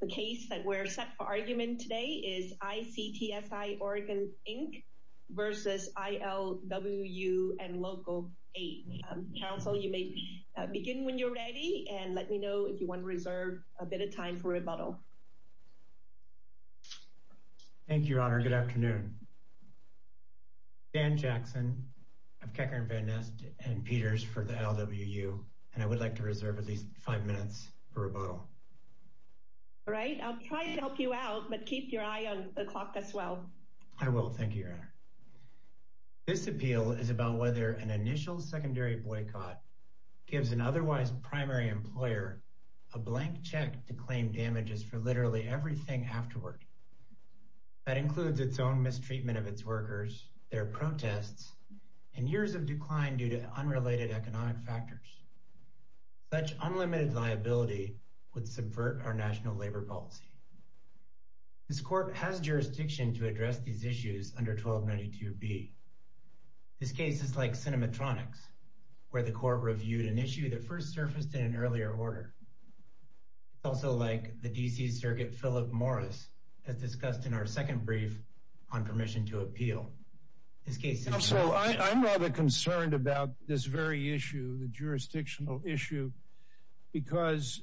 The case that we're set for argument today is ICTSI Oregon, Inc. v. ILWU and Local 8. Counsel, you may begin when you're ready and let me know if you want to reserve a bit of time for rebuttal. Thank you, Your Honor. Good afternoon. Dan Jackson of Kecker & Van Nest and Peters for the LWU. And I would like to reserve at least five minutes for rebuttal. All right, I'll try to help you out, but keep your eye on the clock as well. I will, thank you, Your Honor. This appeal is about whether an initial secondary boycott gives an otherwise primary employer a blank check to claim damages for literally everything afterward. That includes its own mistreatment of its workers, their protests, and years of decline due to unrelated economic factors. Such unlimited liability would subvert our national labor policy. This court has jurisdiction to address these issues under 1292B. This case is like cinematronics, where the court reviewed an issue that first surfaced in an earlier order. It's also like the D.C. Circuit Philip Morris has discussed in our second brief on permission to appeal. This case- Counsel, I'm rather concerned about this very issue, the jurisdictional issue, because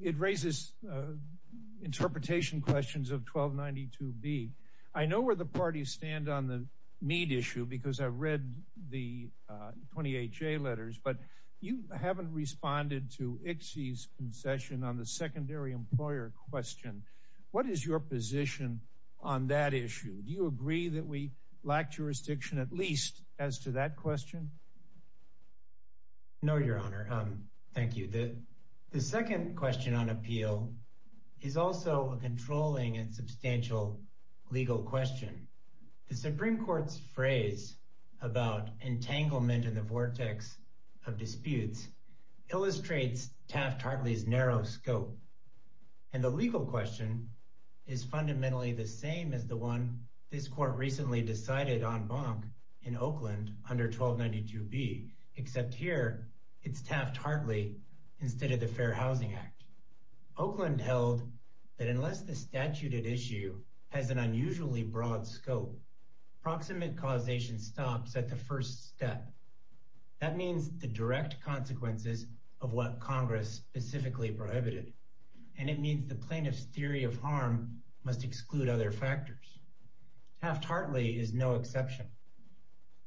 it raises interpretation questions of 1292B. I know where the parties stand on the Mead issue, because I've read the 28J letters, but you haven't responded to ICSI's concession on the secondary employer question. What is your position on that issue? Do you agree that we lack jurisdiction, at least as to that question? No, Your Honor. Thank you. The second question on appeal is also a controlling and substantial legal question. The Supreme Court's phrase about entanglement in the vortex of disputes illustrates Taft-Hartley's narrow scope. And the legal question is fundamentally the same as the one this court recently decided en banc in Oakland under 1292B, except here it's Taft-Hartley instead of the Fair Housing Act. Oakland held that unless the statute at issue has an unusually broad scope, proximate causation stops at the first step. That means the direct consequences of what Congress specifically prohibited. And it means the plaintiff's theory of harm must exclude other factors. Taft-Hartley is no exception.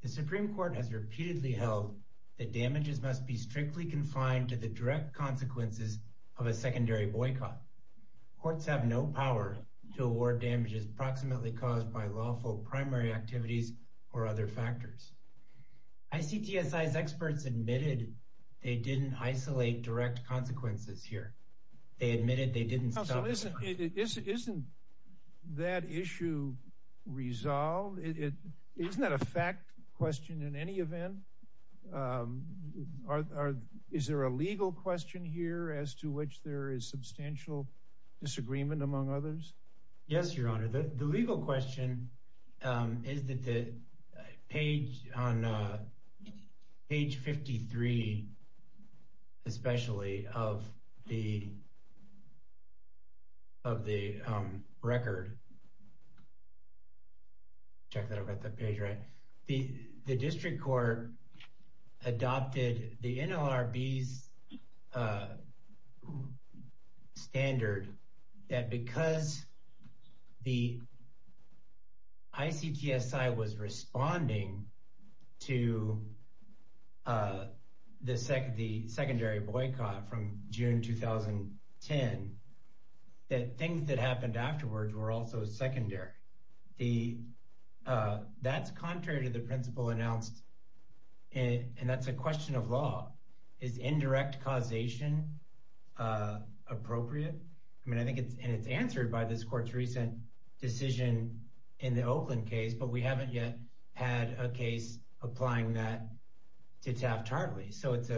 The Supreme Court has repeatedly held that damages must be strictly confined to the direct consequences of a secondary boycott. Courts have no power to award damages proximately caused by lawful primary activities or other factors. ICTSI's experts admitted They admitted they didn't stop at the first step. Isn't that issue resolved? Isn't that a fact question in any event? Is there a legal question here as to which there is substantial disagreement among others? Yes, Your Honor. The legal question is that the page on page 53, especially of the record. Check that I've got that page right. The district court adopted the NLRB's standard that because the ICTSI was responding to the secondary boycott from June, 2010, that things that happened afterwards were also secondary. That's contrary to the principle announced, and that's a question of law. Is indirect causation appropriate? I mean, I think it's answered by this court's recent decision in the Oakland case, but we haven't yet had a case applying that to Taft-Hartley. So it's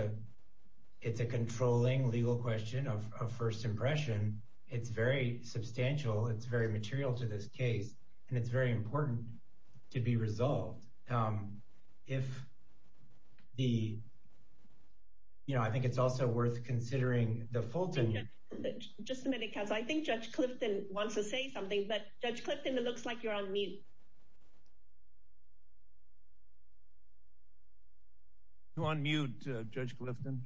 a controlling legal question of first impression. It's very substantial. It's very material to this case, and it's very important to be resolved. If the, you know, I think it's also worth considering the Fulton- Just a minute, counsel. I think Judge Clifton wants to say something, but Judge Clifton, it looks like you're on mute. You're on mute, Judge Clifton.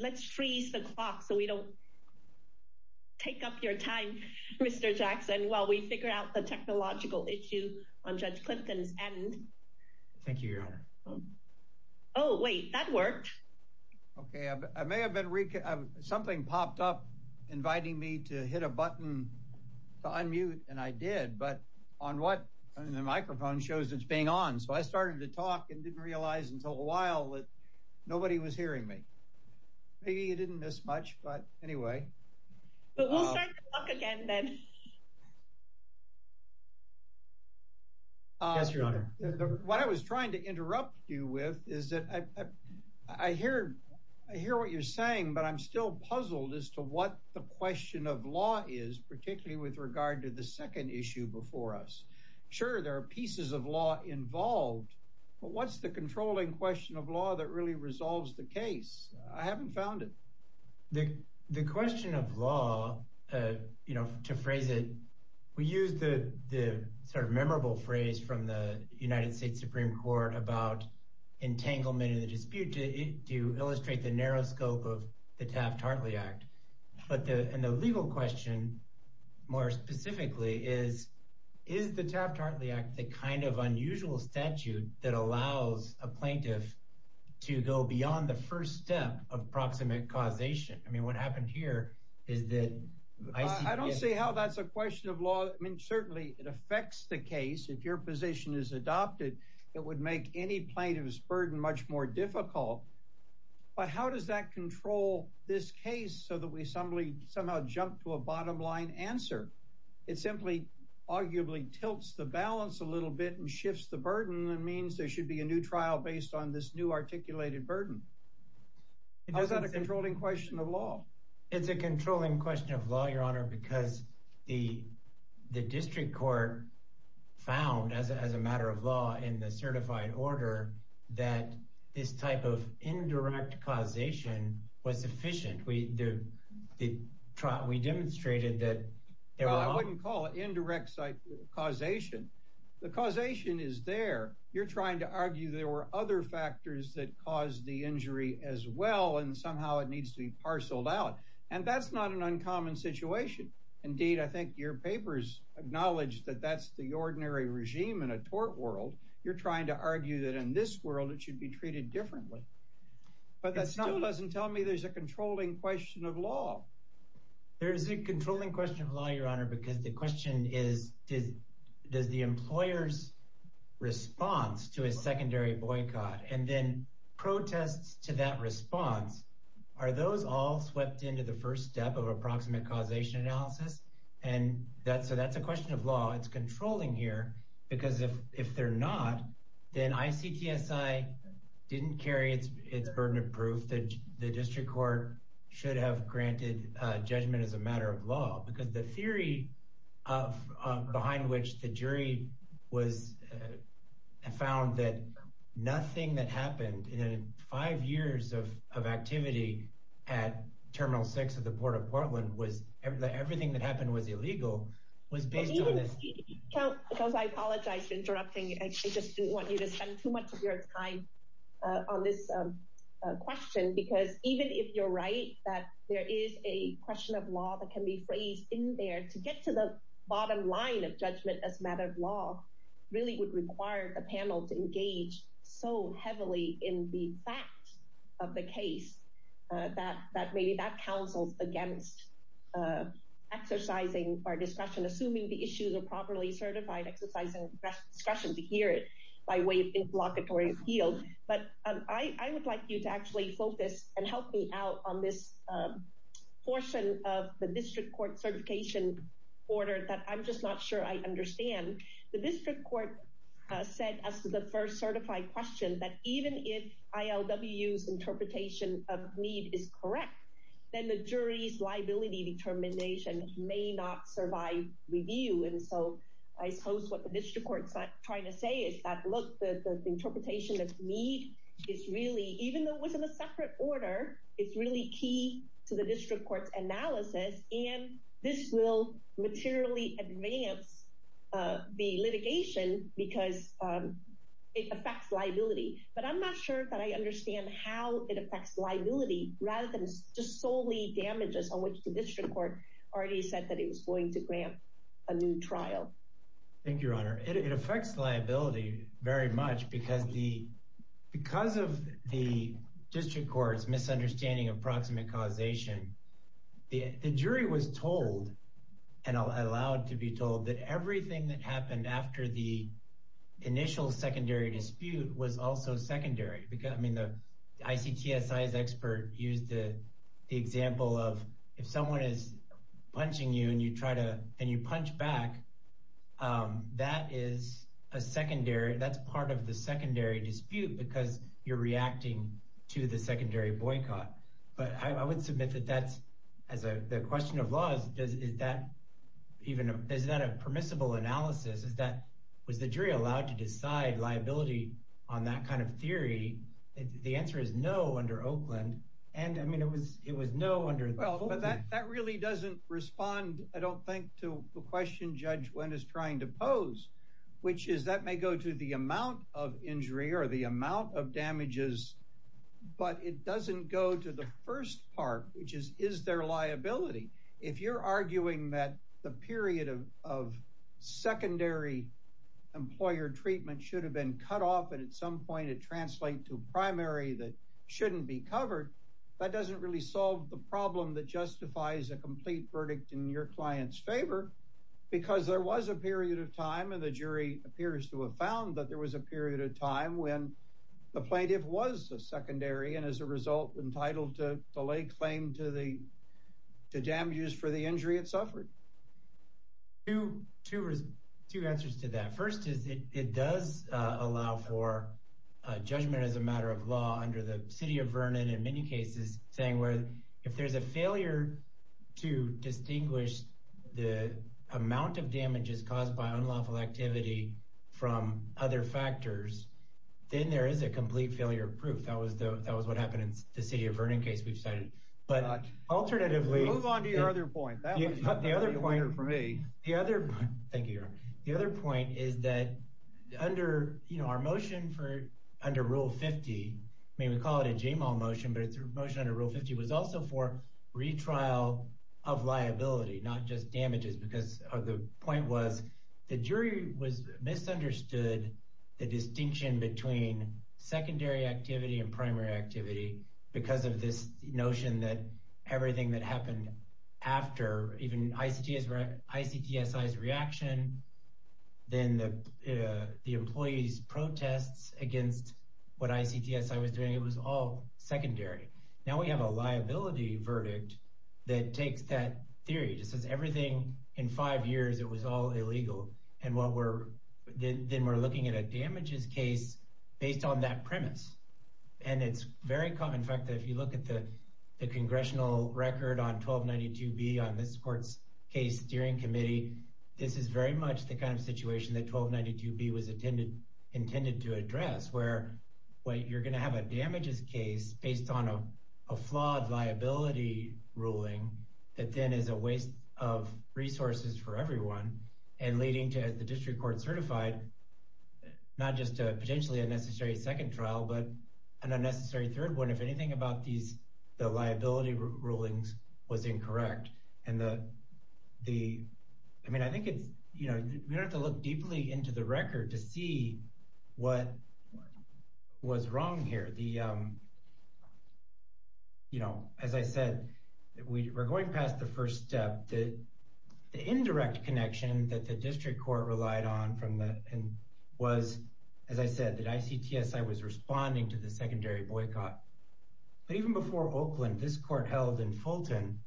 Let's freeze the clock so we don't take up your time, Mr. Jackson, while we figure out the technological issue on Judge Clifton's end. Thank you, Your Honor. Oh, wait, that worked. Okay, I may have been, something popped up inviting me to hit a button to unmute, and I did, but on what, I mean, the microphone shows it's being on. So I started to talk and didn't realize until a while that nobody was hearing me. Maybe you didn't miss much, but anyway. But we'll start the clock again then. Yes, Your Honor. What I was trying to interrupt you with is that I hear what you're saying, but I'm still puzzled as to what the question of law is, particularly with regard to the second issue before us. Sure, there are pieces of law involved, but what's the controlling question of law that really resolves the case? I haven't found it. The question of law, to phrase it, we use the sort of memorable phrase from the United States Supreme Court about entanglement in the dispute to illustrate the narrow scope of the Taft-Hartley Act. But the legal question more specifically is, is the Taft-Hartley Act the kind of unusual statute that allows a plaintiff to go beyond the first step of proximate causation? I mean, what happened here is that I see- I don't see how that's a question of law. I mean, certainly it affects the case. If your position is adopted, it would make any plaintiff's burden much more difficult. But how does that control this case so that we somehow jump to a bottom-line answer? It simply, arguably, tilts the balance a little bit and shifts the burden and means there should be a new trial based on this new articulated burden. How is that a controlling question of law? It's a controlling question of law, Your Honor, because the district court found, as a matter of law, in the certified order, that this type of indirect causation was sufficient. We demonstrated that there were- Well, I wouldn't call it indirect causation. The causation is there. You're trying to argue there were other factors that caused the injury as well, and somehow it needs to be parceled out. And that's not an uncommon situation. Indeed, I think your papers acknowledge that that's the ordinary regime in a tort world. You're trying to argue that in this world, it should be treated differently. But that still doesn't tell me there's a controlling question of law. There is a controlling question of law, Your Honor, because the question is, does the employer's response to a secondary boycott and then protests to that response, are those all swept into the first step of approximate causation analysis? And so that's a question of law. It's controlling here, because if they're not, then ICTSI didn't carry its burden of proof that the district court should have granted judgment as a matter of law, because the theory behind which the jury was found that nothing that happened in five years of activity at Terminal 6 of the Port of Portland was that everything that happened was illegal, was based on this- Can you just, because I apologize for interrupting. I just didn't want you to spend too much of your time on this question, because even if you're right, that there is a question of law that can be phrased in there to get to the bottom line of judgment as a matter of law really would require a panel to engage so heavily in the facts of the case that maybe that counsels against exercising our discretion, assuming the issues are properly certified, exercising discretion to hear it by way of involuntary appeal. But I would like you to actually focus and help me out on this portion of the district court certification order that I'm just not sure I understand. The district court said as to the first certified question that even if ILW's interpretation of need is correct, then the jury's liability determination may not survive review. And so I suppose what the district court's trying to say is that, look, the interpretation of need is really, even though it was in a separate order, it's really key to the district court's analysis and this will materially advance the litigation because it affects liability. But I'm not sure that I understand how it affects liability rather than just solely damages on which the district court already said that it was going to grant a new trial. Thank you, Your Honor. It affects liability very much because of the district court's misunderstanding of proximate causation, the jury was told and allowed to be told that everything that happened after the initial secondary dispute was also secondary. I mean, the ICTSI's expert used the example of if someone is punching you and you try to, and you punch back, that is a secondary, that's part of the secondary dispute because you're reacting to the secondary boycott. But I would submit that that's, as a question of laws, is that even, is that a permissible analysis? Is that, was the jury allowed to decide liability on that kind of theory? The answer is no under Oakland. And I mean, it was no under Oakland. That really doesn't respond, I don't think, to the question Judge Wendt is trying to pose, which is that may go to the amount of injury or the amount of damages, but it doesn't go to the first part, which is, is there liability? If you're arguing that the period of secondary employer treatment should have been cut off, and at some point it translate to primary that shouldn't be covered, that doesn't really solve the problem that justifies a complete verdict in your client's favor, because there was a period of time, and the jury appears to have found that there was a period of time when the plaintiff was a secondary, and as a result, entitled to lay claim to damages for the injury it suffered. Two answers to that. First is it does allow for judgment as a matter of law under the city of Vernon, in many cases, saying where if there's a failure to distinguish the amount of damages caused by unlawful activity from other factors, then there is a complete failure of proof. That was what happened in the city of Vernon case we've cited. But alternatively- Move on to your other point. That was a good point for me. The other, thank you, your honor. The other point is that under, you know, our motion for, under rule 50, I mean, we call it a JMAL motion, but it's a motion under rule 50, was also for retrial of liability, not just damages, because the point was the jury misunderstood the distinction between secondary activity and primary activity because of this notion that everything that happened after even ICTSI's reaction, then the employee's protests against what ICTSI was doing, it was all secondary. Now we have a liability verdict that takes that theory, just says everything in five years, it was all illegal. And what we're, then we're looking at a damages case based on that premise. And it's very common, in fact, that if you look at the congressional record on 1292B on this court's case steering committee, this is very much the kind of situation that 1292B was intended to address, where you're going to have a damages case based on a flawed liability ruling that then is a waste of resources for everyone and leading to, as the district court certified, not just a potentially unnecessary second trial, but an unnecessary third one, if anything about the liability rulings was incorrect. And the, I mean, I think it's, we don't have to look deeply into the record to see what was wrong here. As I said, we're going past the first step, the indirect connection that the district court relied on and was, as I said, that ICTSI was responding to the secondary boycott. But even before Oakland, this court held in Fulton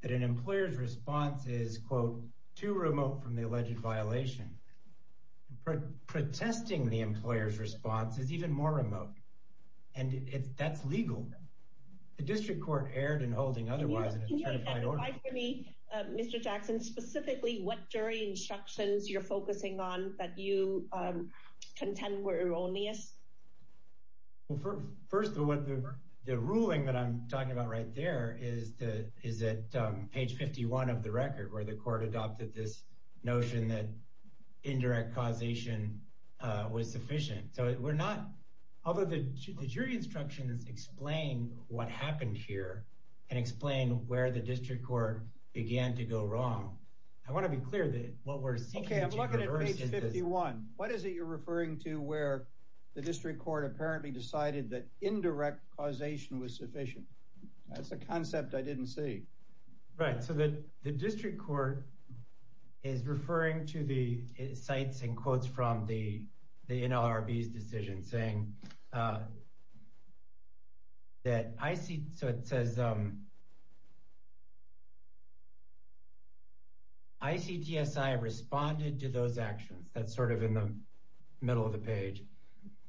that an employer's response is, quote, too remote from the alleged violation. Protesting the employer's response is even more remote. And that's legal. The district court erred in holding otherwise in a certified order. Can you clarify for me, Mr. Jackson, specifically what jury instructions you're focusing on that you contend were erroneous? First of all, the ruling that I'm talking about right there is at page 51 of the record, where the court adopted this notion that indirect causation was sufficient. So we're not, although the jury instructions explain what happened here and explain where the district court began to go wrong, I want to be clear that what we're seeing here versus this. Okay, I'm looking at page 51. What is it you're referring to where the district court apparently decided that indirect causation was sufficient? That's a concept I didn't see. Right, so the district court is referring to the cites and quotes from the NLRB's decision, saying that IC, so it says, ICTSI responded to those actions. That's sort of in the middle of the page.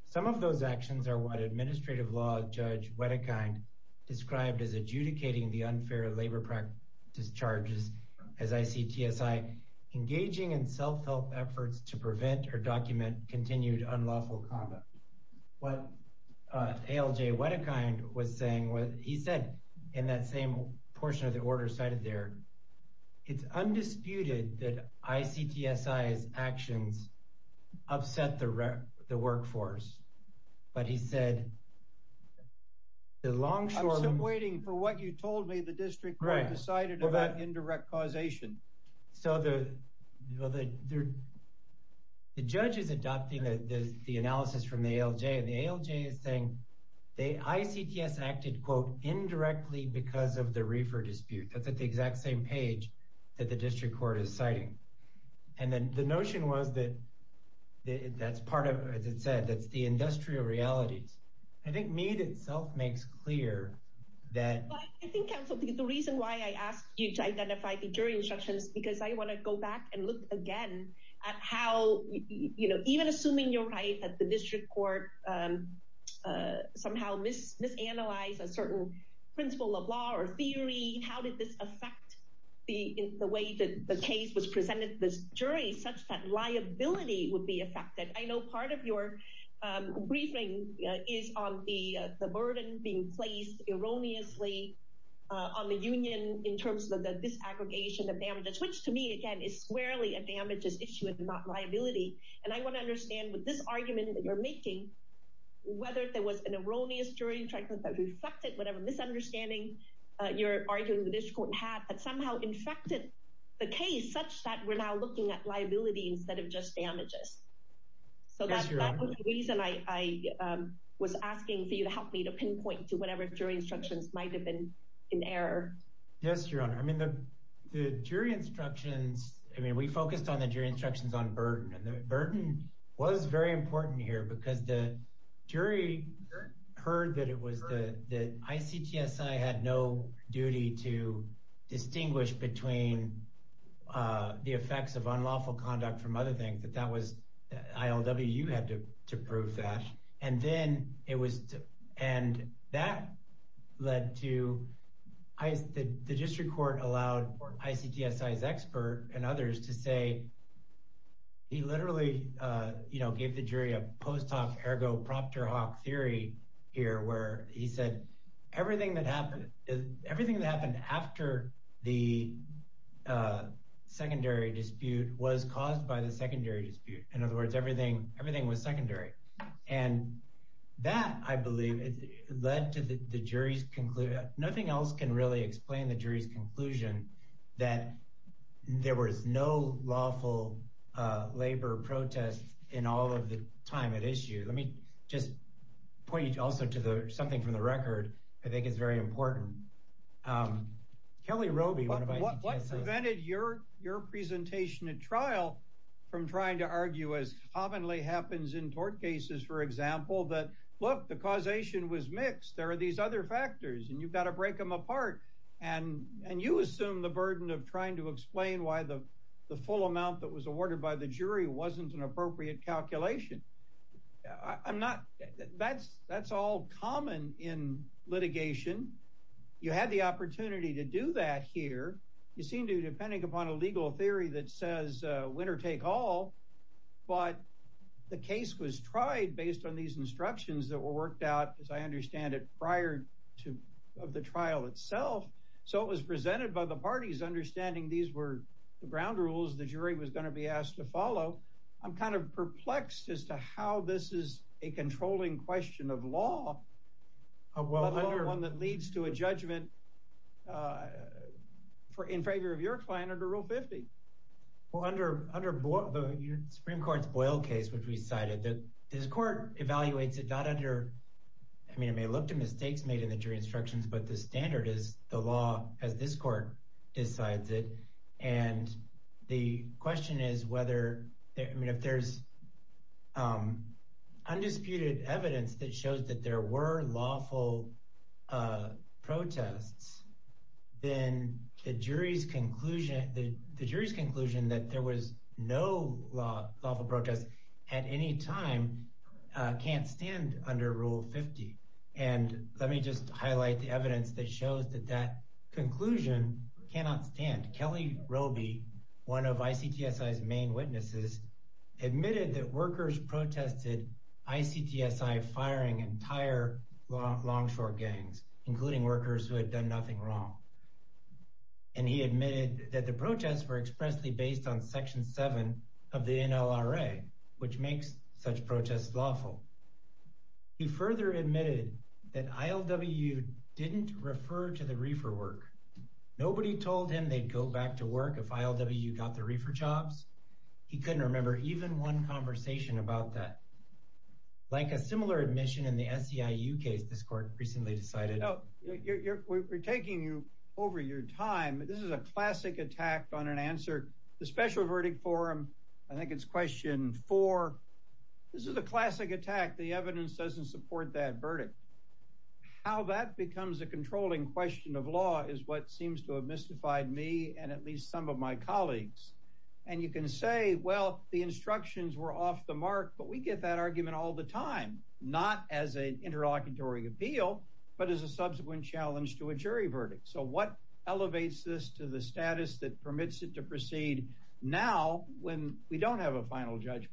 Some of those actions are what administrative law judge Wedekind described as adjudicating the unfair labor practice charges as ICTSI, engaging in self-help efforts to prevent or document continued unlawful conduct. What ALJ Wedekind was saying was, he said in that same portion of the order cited there, it's undisputed that ICTSI's actions upset the workforce. But he said, the long short- I'm still waiting for what you told me the district court decided about indirect causation. So the judge is adopting the analysis from the ALJ, and the ALJ is saying, the ICTS acted quote, indirectly because of the reefer dispute. That's at the exact same page that the district court is citing. And then the notion was that that's part of, as it said, that's the industrial realities. I think Mead itself makes clear that- I think the reason why I asked you to identify the jury instructions, because I wanna go back and look again at how, even assuming you're right that the district court somehow misanalyzed a certain principle of law or theory, how did this affect the way that the case was presented to the jury such that liability would be affected? I know part of your briefing is on the burden being placed erroneously on the union in terms of the disaggregation of damages, which to me, again, is squarely a damages issue and not liability. And I wanna understand with this argument that you're making, whether there was an erroneous jury instruction that reflected whatever misunderstanding you're arguing the district court had that somehow infected the case such that we're now looking at liability instead of just damages. So that was the reason I was asking for you to help me to pinpoint to whatever jury instructions might've been in error. Yes, Your Honor. I mean, the jury instructions, I mean, we focused on the jury instructions on burden and the burden was very important here because the jury heard that it was the, that ICTSI had no duty to distinguish between the effects of unlawful conduct from other things, that that was, ILWU had to prove that. And then it was, and that led to, the district court allowed ICTSI's expert and others to say, he literally gave the jury a post hoc ergo proctor hoc theory here, where he said everything that happened, everything that happened after the secondary dispute was caused by the secondary dispute. In other words, everything was secondary. And that I believe led to the jury's conclusion, nothing else can really explain the jury's conclusion that there was no lawful labor protest in all of the time at issue. Let me just point you also to the, something from the record, I think is very important. Kelly Roby, one of ICTSI's- What prevented your presentation at trial from trying to argue as commonly happens in tort cases, for example, that look, the causation was mixed. There are these other factors and you've got to break them apart. And you assume the burden of trying to explain why the full amount that was awarded by the jury wasn't an appropriate calculation. That's all common in litigation. You had the opportunity to do that here. You seem to depending upon a legal theory that says a winner take all, but the case was tried based on these instructions that were worked out, as I understand it, prior to the trial itself. So it was presented by the parties understanding these were the ground rules the jury was going to be asked to follow. I'm kind of perplexed as to how this is a controlling question of law, one that leads to a judgment in favor of your client under Rule 50. Well, under the Supreme Court's Boyle case, which we cited, this court evaluates it not under, I mean, it may look to mistakes made in the jury instructions, but the standard is the law as this court decides it. And the question is whether, I mean, if there's undisputed evidence that shows that there were lawful protests, then the jury's conclusion that there was no lawful protests at any time can't stand under Rule 50. And let me just highlight the evidence that shows that that conclusion cannot stand. Kelly Roby, one of ICTSI's main witnesses, admitted that workers protested ICTSI firing entire Longshore gangs, including workers who had done nothing wrong. And he admitted that the protests were expressly based on Section 7 of the NLRA, which makes such protests lawful. He further admitted that ILWU didn't refer to the reefer work. Nobody told him they'd go back to work if ILWU got the reefer jobs. He couldn't remember even one conversation about that. Like a similar admission in the SEIU case, this court recently decided- Oh, we're taking you over your time. This is a classic attack on an answer. The special verdict forum, I think it's question four. This is a classic attack. The evidence doesn't support that verdict. How that becomes a controlling question of law is what seems to have mystified me and at least some of my colleagues. And you can say, well, the instructions were off the mark, but we get that argument all the time, not as an interlocutory appeal, but as a subsequent challenge to a jury verdict. So what elevates this to the status that permits it to proceed now when we don't have a final judgment?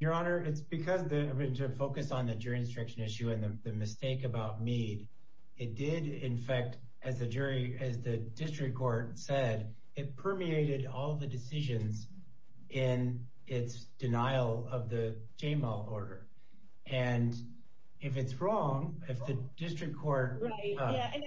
Your Honor, it's because of the focus on the jury instruction issue and the mistake about Meade. It did, in fact, as the district court said, it permeated all the decisions in its denial of the JML order. And if it's wrong, if the district court- Right, yeah, and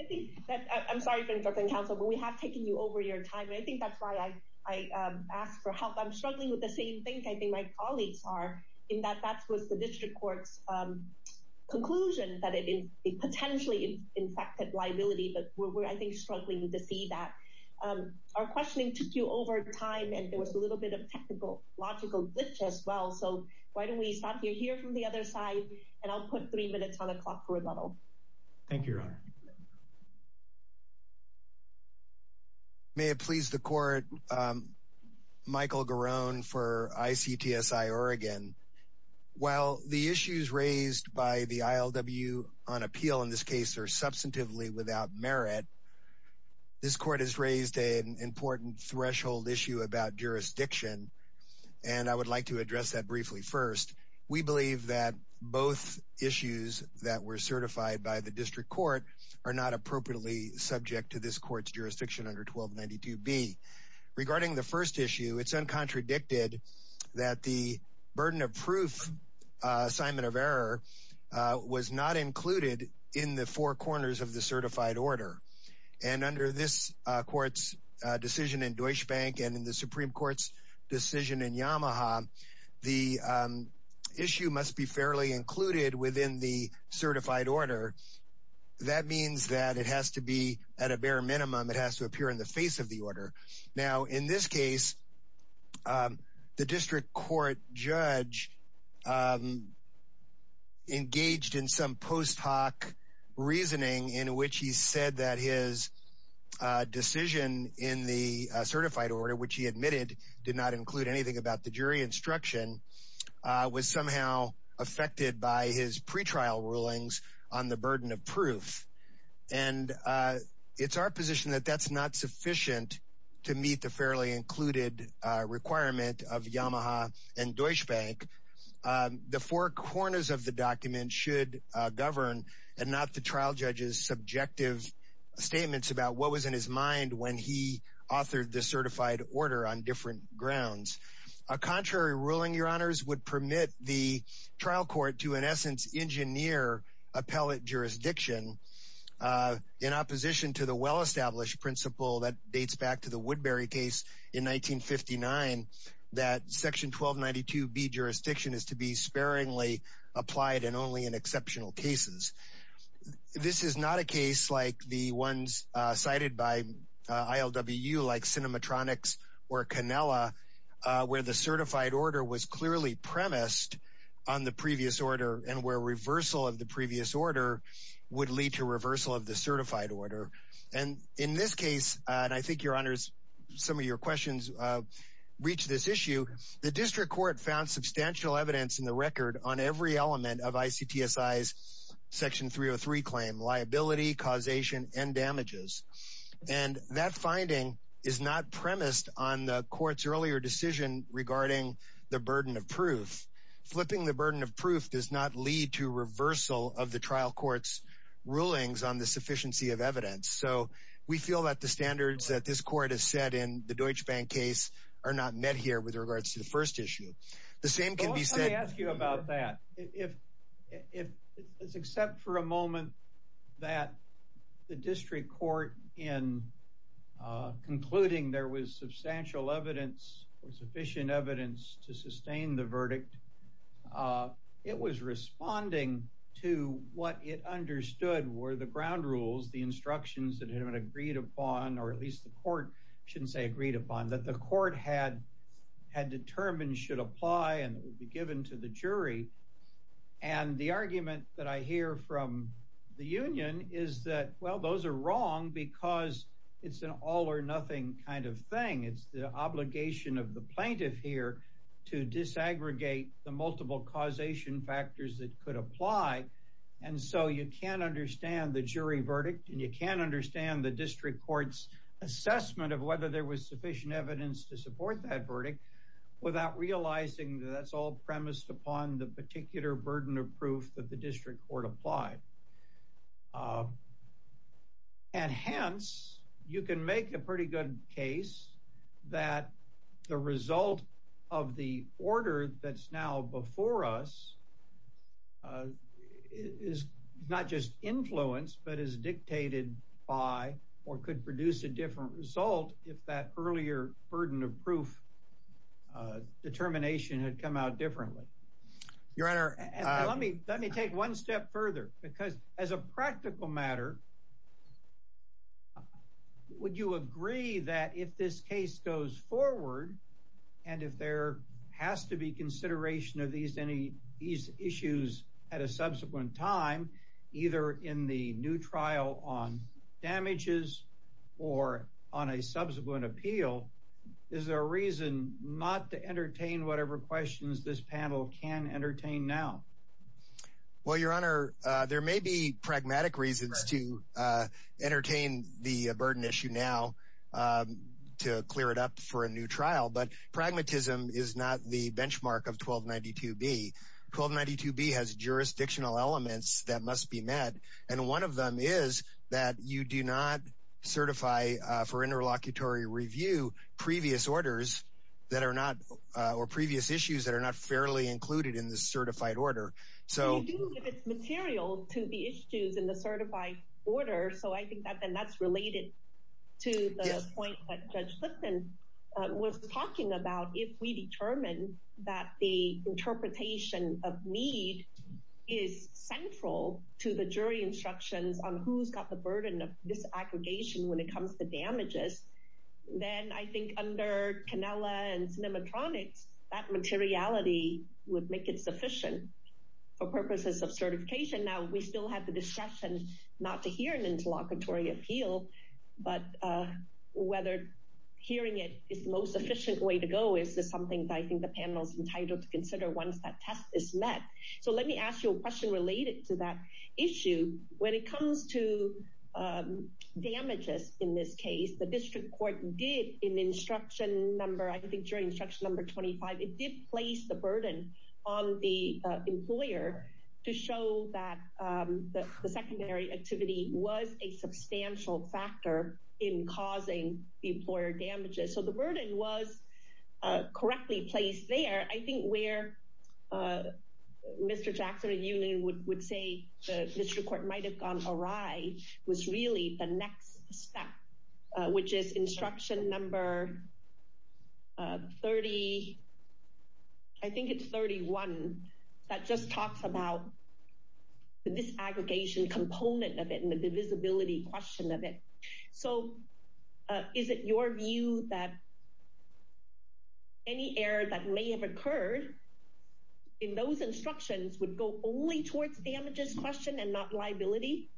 I'm sorry for interrupting counsel, but we have taken you over your time. And I think that's why I asked for help. I'm struggling with the same thing I think my colleagues are, in that that was the district court's conclusion that it potentially infected liability, but we're, I think, struggling to see that. Our questioning took you over time and there was a little bit of technical, logical glitch as well. So why don't we stop you here from the other side and I'll put three minutes on the clock for rebuttal. Thank you, Your Honor. May it please the court, Michael Garone for ICTSI Oregon. While the issues raised by the ILW on appeal in this case are substantively without merit, this court has raised an important threshold issue about jurisdiction. And I would like to address that briefly first. We believe that both issues that were certified by the district court are not appropriately subject to this court's jurisdiction under 1292B. Regarding the first issue, it's uncontradicted that the burden of proof assignment of error was not included in the four corners of the certified order. And under this court's decision in Deutsche Bank and in the Supreme Court's decision in Yamaha, the issue must be fairly included within the certified order. That means that it has to be at a bare minimum, it has to appear in the face of the order. Now, in this case, the district court judge engaged in some post hoc reasoning in which he said that his decision in the certified order, which he admitted did not include anything about the jury instruction, was somehow affected by his pretrial rulings on the burden of proof. And it's our position that that's not sufficient to meet the fairly included requirement of Yamaha and Deutsche Bank. The four corners of the document should govern and not the trial judge's subjective statements about what was in his mind A contrary ruling, your honors, would permit the trial court to in essence engineer appellate jurisdiction in opposition to the well-established principle that dates back to the Woodbury case in 1959, that section 1292B jurisdiction is to be sparingly applied and only in exceptional cases. This is not a case like the ones cited by ILWU like Cinematronics or Canella, where the certified order was clearly premised on the previous order and where reversal of the previous order would lead to reversal of the certified order. And in this case, and I think your honors, some of your questions reach this issue, the district court found substantial evidence in the record on every element of ICTSI's section 303 claim, liability, causation and damages. And that finding is not premised on the court's earlier decision regarding the burden of proof. Flipping the burden of proof does not lead to reversal of the trial court's rulings on the sufficiency of evidence. So we feel that the standards that this court has set in the Deutsche Bank case are not met here with regards to the first issue. The same can be said- Let me ask you about that. If it's except for a moment that the district court in concluding there was substantial evidence or sufficient evidence to sustain the verdict, it was responding to what it understood were the ground rules, the instructions that had been agreed upon, or at least the court shouldn't say agreed upon, and it would be given to the jury. And the argument that I hear from the union is that, well, those are wrong because it's an all or nothing kind of thing. It's the obligation of the plaintiff here to disaggregate the multiple causation factors that could apply. And so you can't understand the jury verdict and you can't understand the district court's assessment of whether there was sufficient evidence to support that verdict without realizing that that's all premised upon the particular burden of proof that the district court applied. And hence, you can make a pretty good case that the result of the order that's now before us is not just influenced, but is dictated by, or could produce a different result if that earlier burden of proof determination had come out differently. Your Honor- And let me take one step further because as a practical matter, would you agree that if this case goes forward and if there has to be consideration of these issues at a subsequent time, either in the new trial on damages or on a subsequent appeal, is there a reason not to entertain whatever questions this panel can entertain now? Well, Your Honor, there may be pragmatic reasons to entertain the burden issue now to clear it up for a new trial, but pragmatism is not the benchmark of 1292B. 1292B has jurisdictional elements that must be met. And one of them is that you do not certify for interlocutory review previous orders that are not, or previous issues that are not fairly included in the certified order. So- You do give us material to the issues in the certified order, so I think that then that's related to the point that Judge Lipton was talking about if we determine that the interpretation of need is central to the jury instructions on who's got the burden of disaggregation when it comes to damages, then I think under Canella and Cinematronics, that materiality would make it sufficient for purposes of certification. Now, we still have the discretion not to hear an interlocutory appeal, but whether hearing it is the most efficient way to go is something that I think the panel's entitled to consider once that test is met. So let me ask you a question related to that issue. When it comes to damages in this case, the district court did in instruction number, I think during instruction number 25, it did place the burden on the employer to show that the secondary activity was a substantial factor in causing the employer damages. So the burden was correctly placed there. I think where Mr. Jackson and Union would say the district court might've gone awry was really the next step, which is instruction number 30, I think it's 31, that just talks about the disaggregation component of it and the divisibility question of it. So is it your view that any error that may have occurred in those instructions would go only towards damages question and not liability?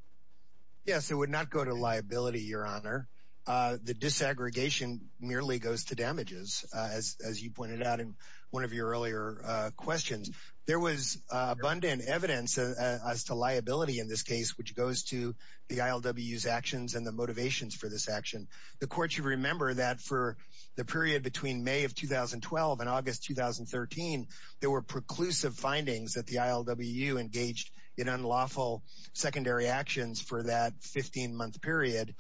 Yes, it would not go to liability, Your Honor. The disaggregation merely goes to damages, as you pointed out in one of your earlier questions. There was abundant evidence as to liability in this case, which goes to the ILWU's actions and the motivations for this action. The court should remember that for the period between May of 2012 and August, 2013, there were preclusive findings that the ILWU engaged in unlawful secondary actions for that 15 month period,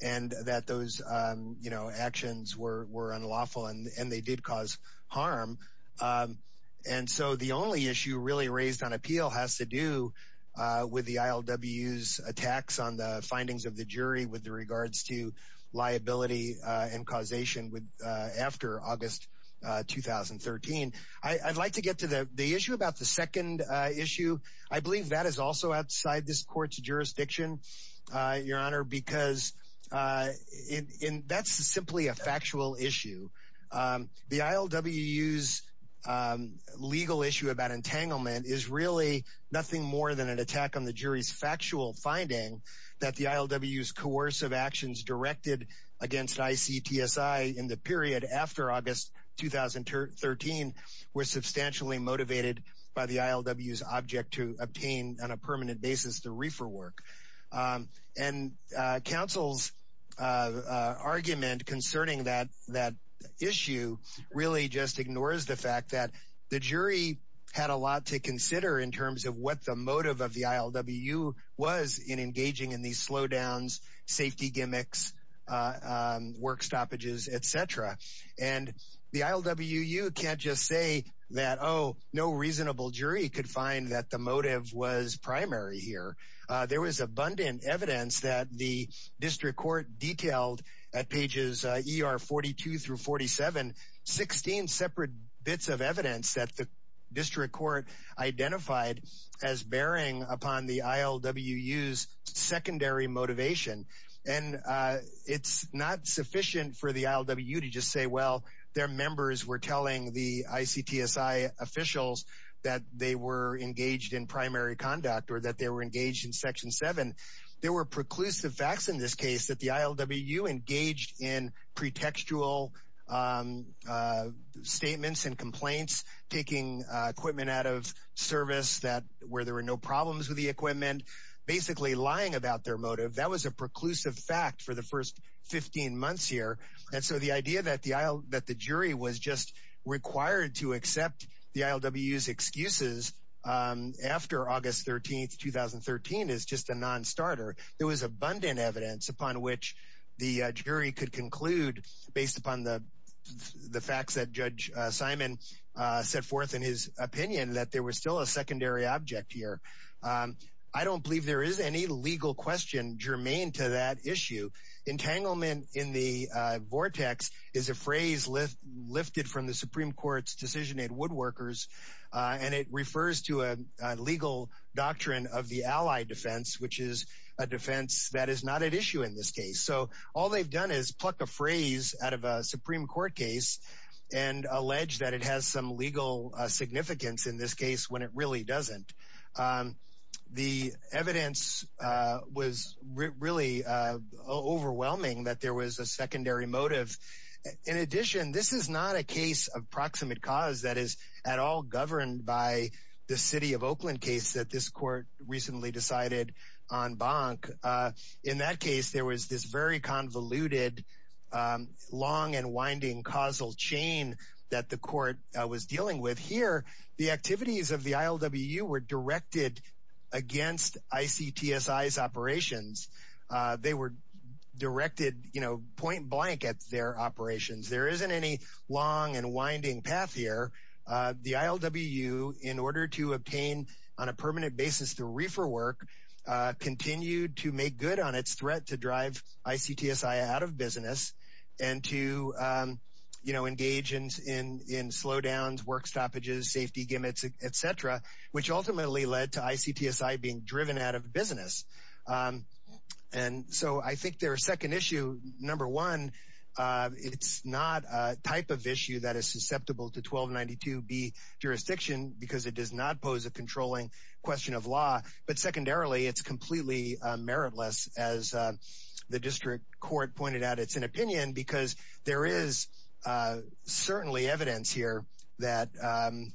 and that those actions were unlawful and they did cause harm. And so the only issue really raised on appeal has to do with the ILWU's attacks on the findings of the jury with regards to liability and causation after August, 2013. I'd like to get to the issue about the second issue. I believe that is also outside this court's jurisdiction, Your Honor, because that's simply a factual issue. The ILWU's legal issue about entanglement is really nothing more than an attack on the jury's factual finding that the ILWU's coercive actions directed against ICTSI in the period after August, 2013 were substantially motivated by the ILWU's object to obtain on a permanent basis the reefer work. And counsel's argument concerning that issue really just ignores the fact that the jury had a lot to consider in terms of what the motive of the ILWU was in engaging in these slowdowns, safety gimmicks, work stoppages, et cetera. And the ILWU can't just say that, oh, no reasonable jury could find that the motive was primary here. There was abundant evidence that the district court detailed at pages ER 42 through 47, 16 separate bits of evidence that the district court identified as bearing upon the ILWU's secondary motivation. And it's not sufficient for the ILWU to just say, well, their members were telling the ICTSI officials that they were engaged in primary conduct or that they were engaged in section seven. There were preclusive facts in this case that the ILWU engaged in pretextual statements and complaints, taking equipment out of service where there were no problems with the equipment, basically lying about their motive. That was a preclusive fact for the first 15 months here. And so the idea that the jury was just required to accept the ILWU's excuses after August 13th, 2013 is just a non-starter. There was abundant evidence upon which the jury could conclude based upon the facts that Judge Simon set forth in his opinion that there was still a secondary object here. I don't believe there is any legal question germane to that issue. Entanglement in the vortex is a phrase lifted from the Supreme Court's decision in Woodworkers. And it refers to a legal doctrine of the ally defense, which is a defense that is not at issue in this case. So all they've done is pluck a phrase out of a Supreme Court case and allege that it has some legal significance in this case when it really doesn't. The evidence was really overwhelming that there was a secondary motive. In addition, this is not a case of proximate cause that is at all governed by the city of Oakland case that this court recently decided on Bonk. In that case, there was this very convoluted long and winding causal chain that the court was dealing with. Here, the activities of the ILWU were directed against ICTSI's operations. They were directed point blank at their operations. There isn't any long and winding path here. The ILWU, in order to obtain on a permanent basis the reefer work, continued to make good on its threat to drive ICTSI out of business and to engage in slowdowns, work stoppages, safety gimmicks, et cetera, which ultimately led to ICTSI being driven out of business. And so I think their second issue, number one, it's not a type of issue that is susceptible to 1292B jurisdiction because it does not pose a controlling question of law. But secondarily, it's completely meritless as the district court pointed out. It's an opinion because there is certainly evidence here that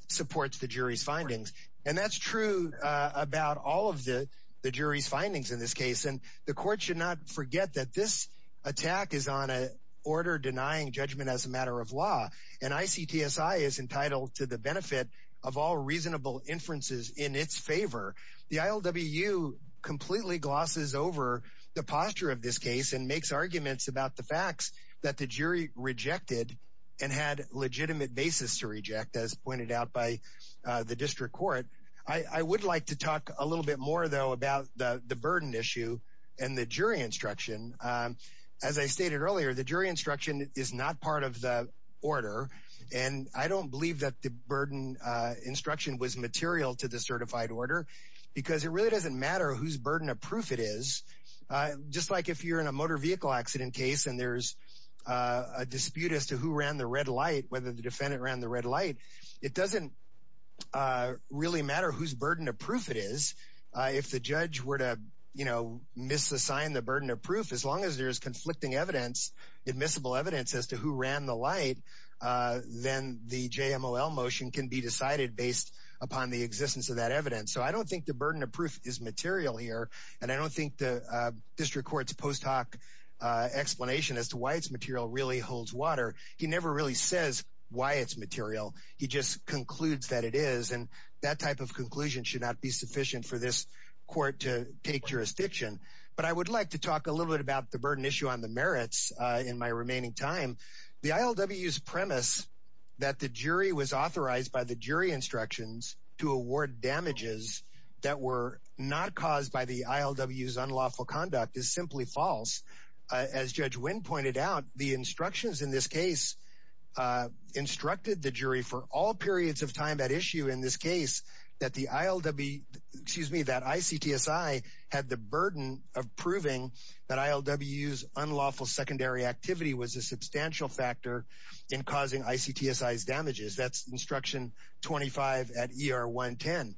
supports the jury's findings. And that's true about all of the jury's findings in this case. And the court should not forget that this attack is on a order denying judgment as a matter of law. And ICTSI is entitled to the benefit of all reasonable inferences in its favor. The ILWU completely glosses over the posture of this case and makes arguments about the facts that the jury rejected and had legitimate basis to reject, as pointed out by the district court. I would like to talk a little bit more though about the burden issue and the jury instruction. As I stated earlier, the jury instruction is not part of the order. And I don't believe that the burden instruction was material to the certified order because it really doesn't matter whose burden of proof it is. Just like if you're in a motor vehicle accident case and there's a dispute as to who ran the red light, whether the defendant ran the red light, it doesn't really matter whose burden of proof it is. If the judge were to misassign the burden of proof, as long as there's conflicting evidence, admissible evidence as to who ran the light, then the JMLL motion can be decided based upon the existence of that evidence. So I don't think the burden of proof is material here. And I don't think the district court's post hoc explanation as to why it's material really holds water. He never really says why it's material. He just concludes that it is. And that type of conclusion should not be sufficient for this court to take jurisdiction. But I would like to talk a little bit about the burden issue on the merits in my remaining time. The ILWU's premise that the jury was authorized by the jury instructions to award damages that were not caused by the ILWU's unlawful conduct is simply false. As Judge Wynn pointed out, the instructions in this case instructed the jury for all periods of time at issue in this case that the ILWU, excuse me, that ICTSI had the burden of proving that ILWU's unlawful secondary activity was a substantial factor in causing ICTSI's damages. That's instruction 25 at ER 110.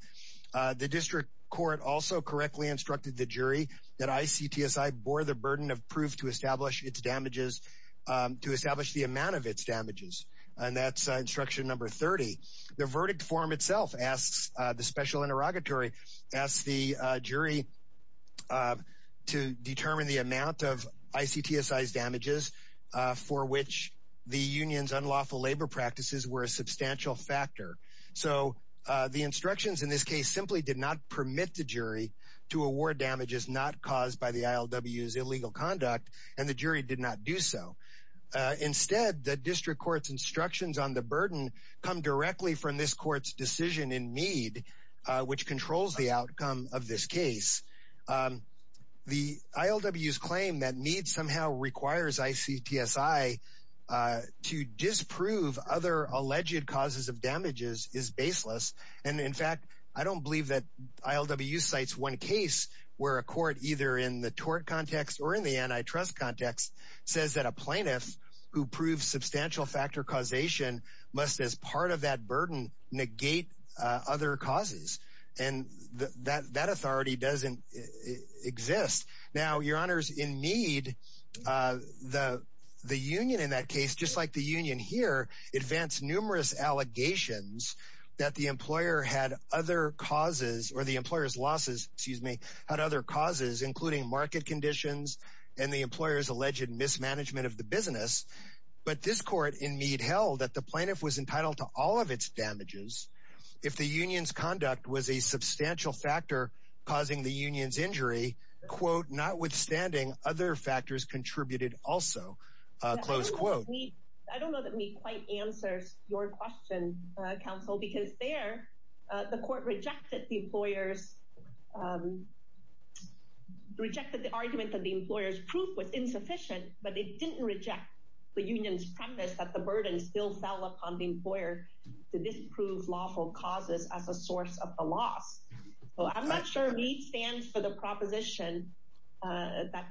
The district court also correctly instructed the jury that ICTSI bore the burden of proof to establish its damages, to establish the amount of its damages. And that's instruction number 30. The verdict form itself asks, the special interrogatory asks the jury to determine the amount of ICTSI's damages for which the union's unlawful labor practices were a substantial factor. So the instructions in this case simply did not permit the jury to award damages not caused by the ILWU's illegal conduct, and the jury did not do so. Instead, the district court's instructions on the burden come directly from this court's decision in Mead, which controls the outcome of this case. The ILWU's claim that Mead somehow requires ICTSI to disprove other alleged causes of damages is baseless. And in fact, I don't believe that ILWU cites one case where a court, either in the tort context or in the antitrust context, says that a plaintiff who proves substantial factor causation must, as part of that burden, negate other causes. And that authority doesn't exist. Now, your honors, in Mead, the union in that case, just like the union here, advanced numerous allegations that the employer had other causes, or the employer's losses, excuse me, had other causes, including market conditions and the employer's alleged mismanagement of the business. But this court in Mead held that the plaintiff was entitled to all of its damages if the union's conduct was a substantial factor causing the union's injury, quote, notwithstanding other factors contributed also, close quote. I don't know that Mead quite answers your question, counsel, because there, the court rejected the employer's, rejected the argument that the employer's proof was insufficient, but it didn't reject the union's premise that the burden still fell upon the employer to disprove lawful causes as a source of the loss. So I'm not sure Mead stands for the proposition that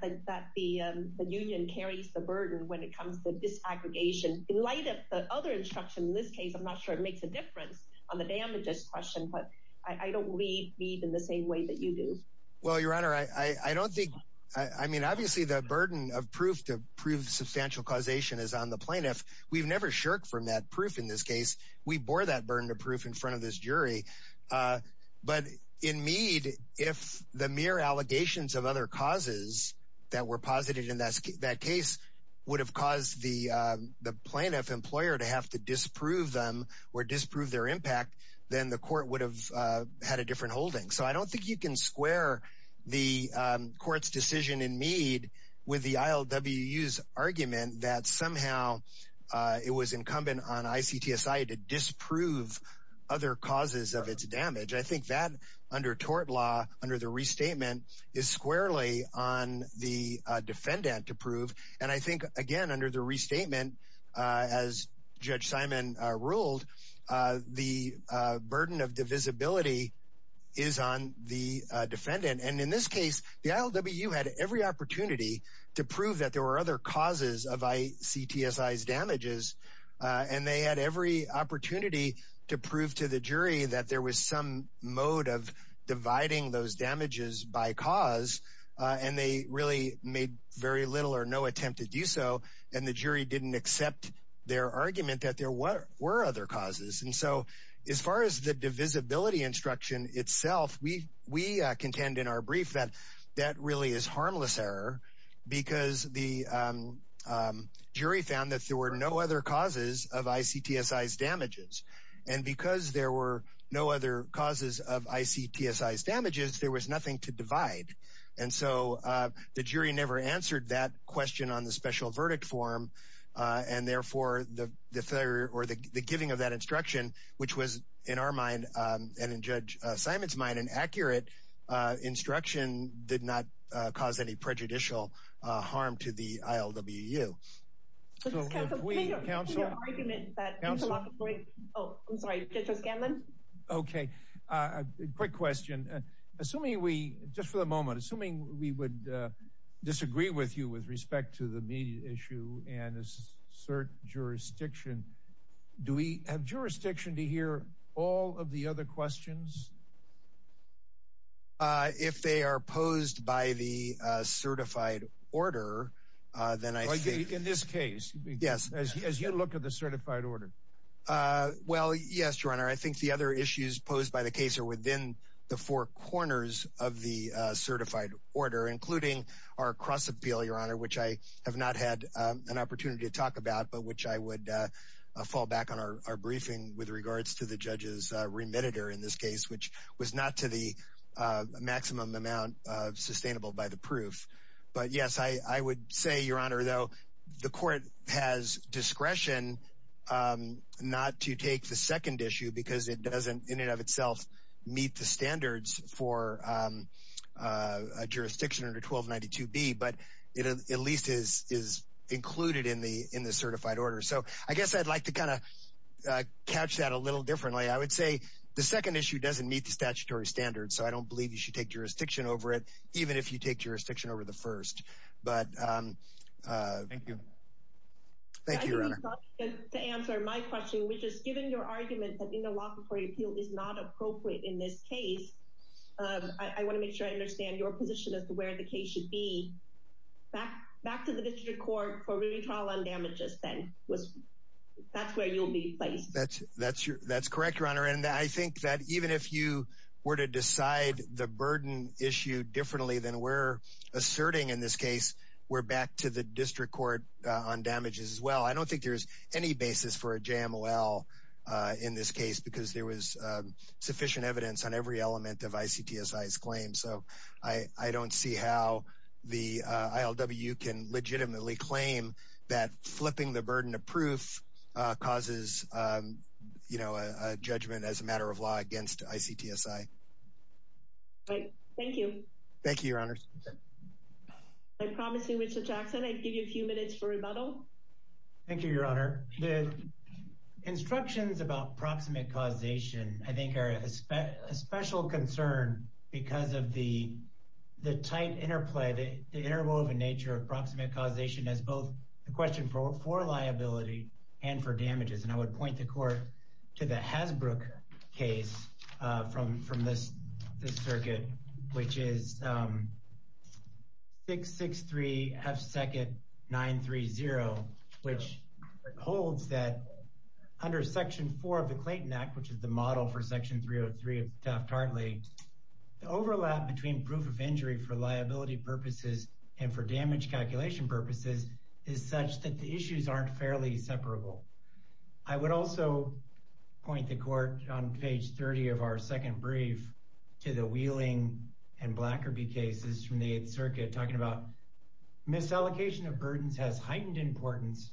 the union carries the burden when it comes to disaggregation. In light of the other instruction in this case, I'm not sure it makes a difference on the damages question, but I don't read Mead in the same way that you do. Well, your honor, I don't think, I mean, obviously the burden of proof to prove substantial causation is on the plaintiff. We've never shirked from that proof in this case. We bore that burden of proof in front of this jury. But in Mead, if the mere allegations of other causes that were posited in that case would have caused the plaintiff employer to have to disprove them or disprove their impact, then the court would have had a different holding. So I don't think you can square the court's decision in Mead with the ILWU's argument that somehow it was incumbent on ICTSI to disprove other causes of its damage. I think that under tort law, under the restatement is squarely on the defendant to prove. And I think, again, under the restatement, as Judge Simon ruled, the burden of divisibility is on the defendant. And in this case, the ILWU had every opportunity to prove that there were other causes of ICTSI's damages. And they had every opportunity to prove to the jury that there was some mode of dividing those damages by cause. And they really made very little or no attempt to do so. And the jury didn't accept their argument that there were other causes. And so as far as the divisibility instruction itself, we contend in our brief that that really is harmless error because the jury found that there were no other causes of ICTSI's damages. And because there were no other causes of ICTSI's damages, there was nothing to divide. And so the jury never answered that question on the special verdict form. And therefore the failure or the giving of that instruction, which was in our mind and in Judge Simon's mind an accurate instruction did not cause any prejudicial harm to the ILWU. So if we counsel- So just counsel, make a clear argument that- Counsel? Oh, I'm sorry, Judge O'Scanlan. Okay, quick question. Assuming we, just for the moment, assuming we would disagree with you with respect to the media issue and assert jurisdiction, do we have jurisdiction to hear all of the other questions? If they are posed by the certified order, then I think- Well, in this case, as you look at the certified order. Well, yes, Your Honor. I think the other issues posed by the case are within the four corners of the certified order, including our cross-appeal, Your Honor, which I have not had an opportunity to talk about, but which I would fall back on our briefing with regards to the judge's remitter in this case, which was not to the maximum amount of sustainable by the proof. But yes, I would say, Your Honor, though, the court has discretion not to take the second issue because it doesn't, in and of itself, meet the standards for a jurisdiction under 1292B, but it at least is included in the certified order. So I guess I'd like to kind of catch that a little differently. I would say the second issue doesn't meet the statutory standards, so I don't believe you should take jurisdiction over it, even if you take jurisdiction over the first. But- Thank you. Thank you, Your Honor. To answer my question, which is, given your argument that interlocutory appeal is not appropriate in this case, I want to make sure I understand your position as to where the case should be. Back to the district court for re-trial on damages, then. That's where you'll be placed. That's correct, Your Honor. And I think that even if you were to decide the burden issue differently than we're asserting in this case, we're back to the district court on damages as well. I don't think there's any basis for a JMOL in this case because there was sufficient evidence on every element of ICTSI's claim. So I don't see how the ILWU can legitimately claim that flipping the burden of proof causes a judgment as a matter of law against ICTSI. Right. Thank you. Thank you, Your Honors. I promise you, Mr. Jackson, I'd give you a few minutes for rebuttal. Thank you, Your Honor. The instructions about proximate causation, I think, are a special concern because of the tight interplay, the interwoven nature of proximate causation as both a question for liability and for damages. And I would point the court to the Hasbrook case from this circuit, which is 663, half-second, 930, which holds that under section four of the Clayton Act, which is the model for section 303 of the Taft-Hartley, the overlap between proof of injury for liability purposes and for damage calculation purposes is such that the issues aren't fairly separable. I would also point the court on page 30 of our second brief to the Wheeling and Blackerby cases from the Eighth Circuit, talking about misallocation of burdens has heightened importance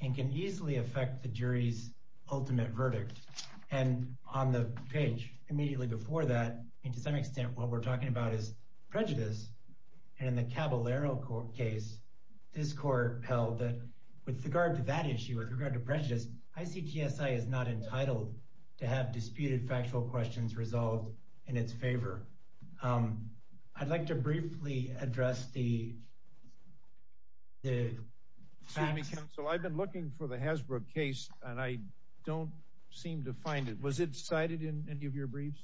and can easily affect the jury's ultimate verdict. And on the page immediately before that, and to some extent what we're talking about is prejudice, and in the Caballero case, this court held that with regard to that issue, with regard to prejudice, ICTSI is not entitled to have disputed factual questions resolved in its favor. I'd like to briefly address the facts. Excuse me, counsel. I've been looking for the Hasbrook case and I don't seem to find it. Was it cited in any of your briefs?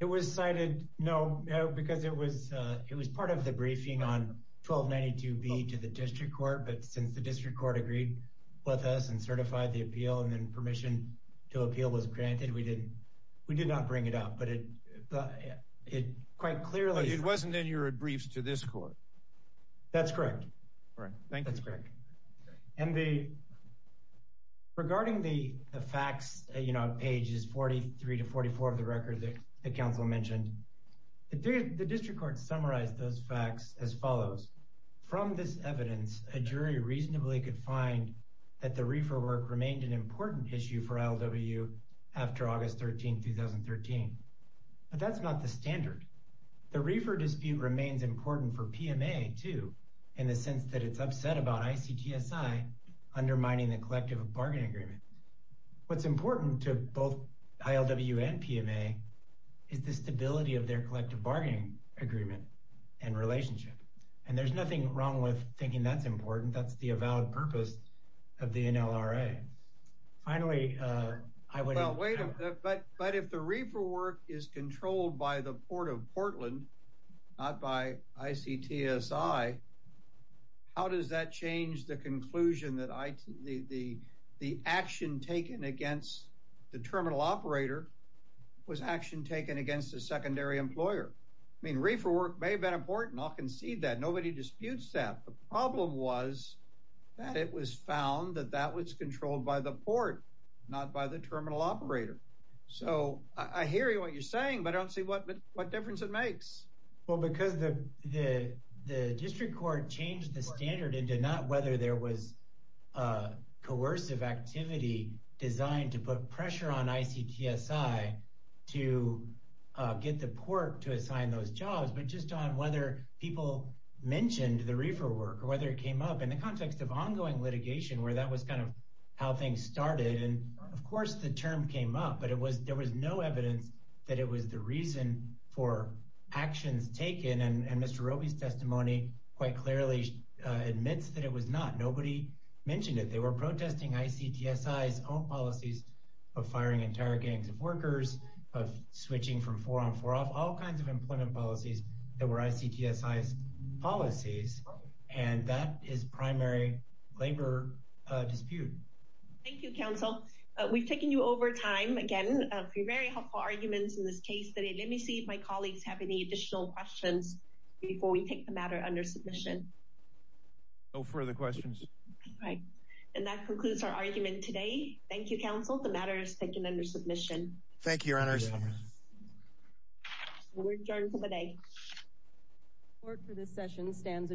It was cited, no, because it was part of the briefing on 1292B to the district court, but since the district court agreed with us and certified the appeal and then permission to appeal was granted, we did not bring it up, but it quite clearly- It wasn't in your briefs to this court. That's correct. Right, thank you. That's correct. And regarding the facts, pages 43 to 44 of the record that the counsel mentioned, the district court summarized those facts as follows. From this evidence, a jury reasonably could find that the reefer work remained an important issue for LWU after August 13, 2013, but that's not the standard. The reefer dispute remains important for PMA too, in the sense that it's upset about ICTSI undermining the collective bargaining agreement. What's important to both ILWU and PMA is the stability of their collective bargaining agreement and relationship. And there's nothing wrong with thinking that's important. That's the avowed purpose of the NLRA. Finally, I would- Well, wait a minute, but if the reefer work is controlled by the Port of Portland, not by ICTSI, how does that change the conclusion that the action taken against the terminal operator was action taken against a secondary employer? I mean, reefer work may have been important. I'll concede that. Nobody disputes that. The problem was that it was found that that was controlled by the port, not by the terminal operator. So I hear what you're saying, but I don't see what difference it makes. Well, because the district court changed the standard into not whether there was a coercive activity designed to put pressure on ICTSI to get the port to assign those jobs, but just on whether people mentioned the reefer work or whether it came up in the context of ongoing litigation, where that was kind of how things started. And of course the term came up, but there was no evidence that it was the reason for actions taken. And Mr. Roby's testimony quite clearly admits that it was not. Nobody mentioned it. They were protesting ICTSI's own policies of firing entire gangs of workers, of switching from four on four off, all kinds of employment policies that were ICTSI's policies. And that is primary labor dispute. Thank you, counsel. We've taken you over time again. A few very helpful arguments in this case today. Let me see if my colleagues have any additional questions before we take the matter under submission. No further questions. All right. And that concludes our argument today. Thank you, counsel. The matter is taken under submission. Thank you, your honors. We're adjourned for the day. Court for this session stands adjourned.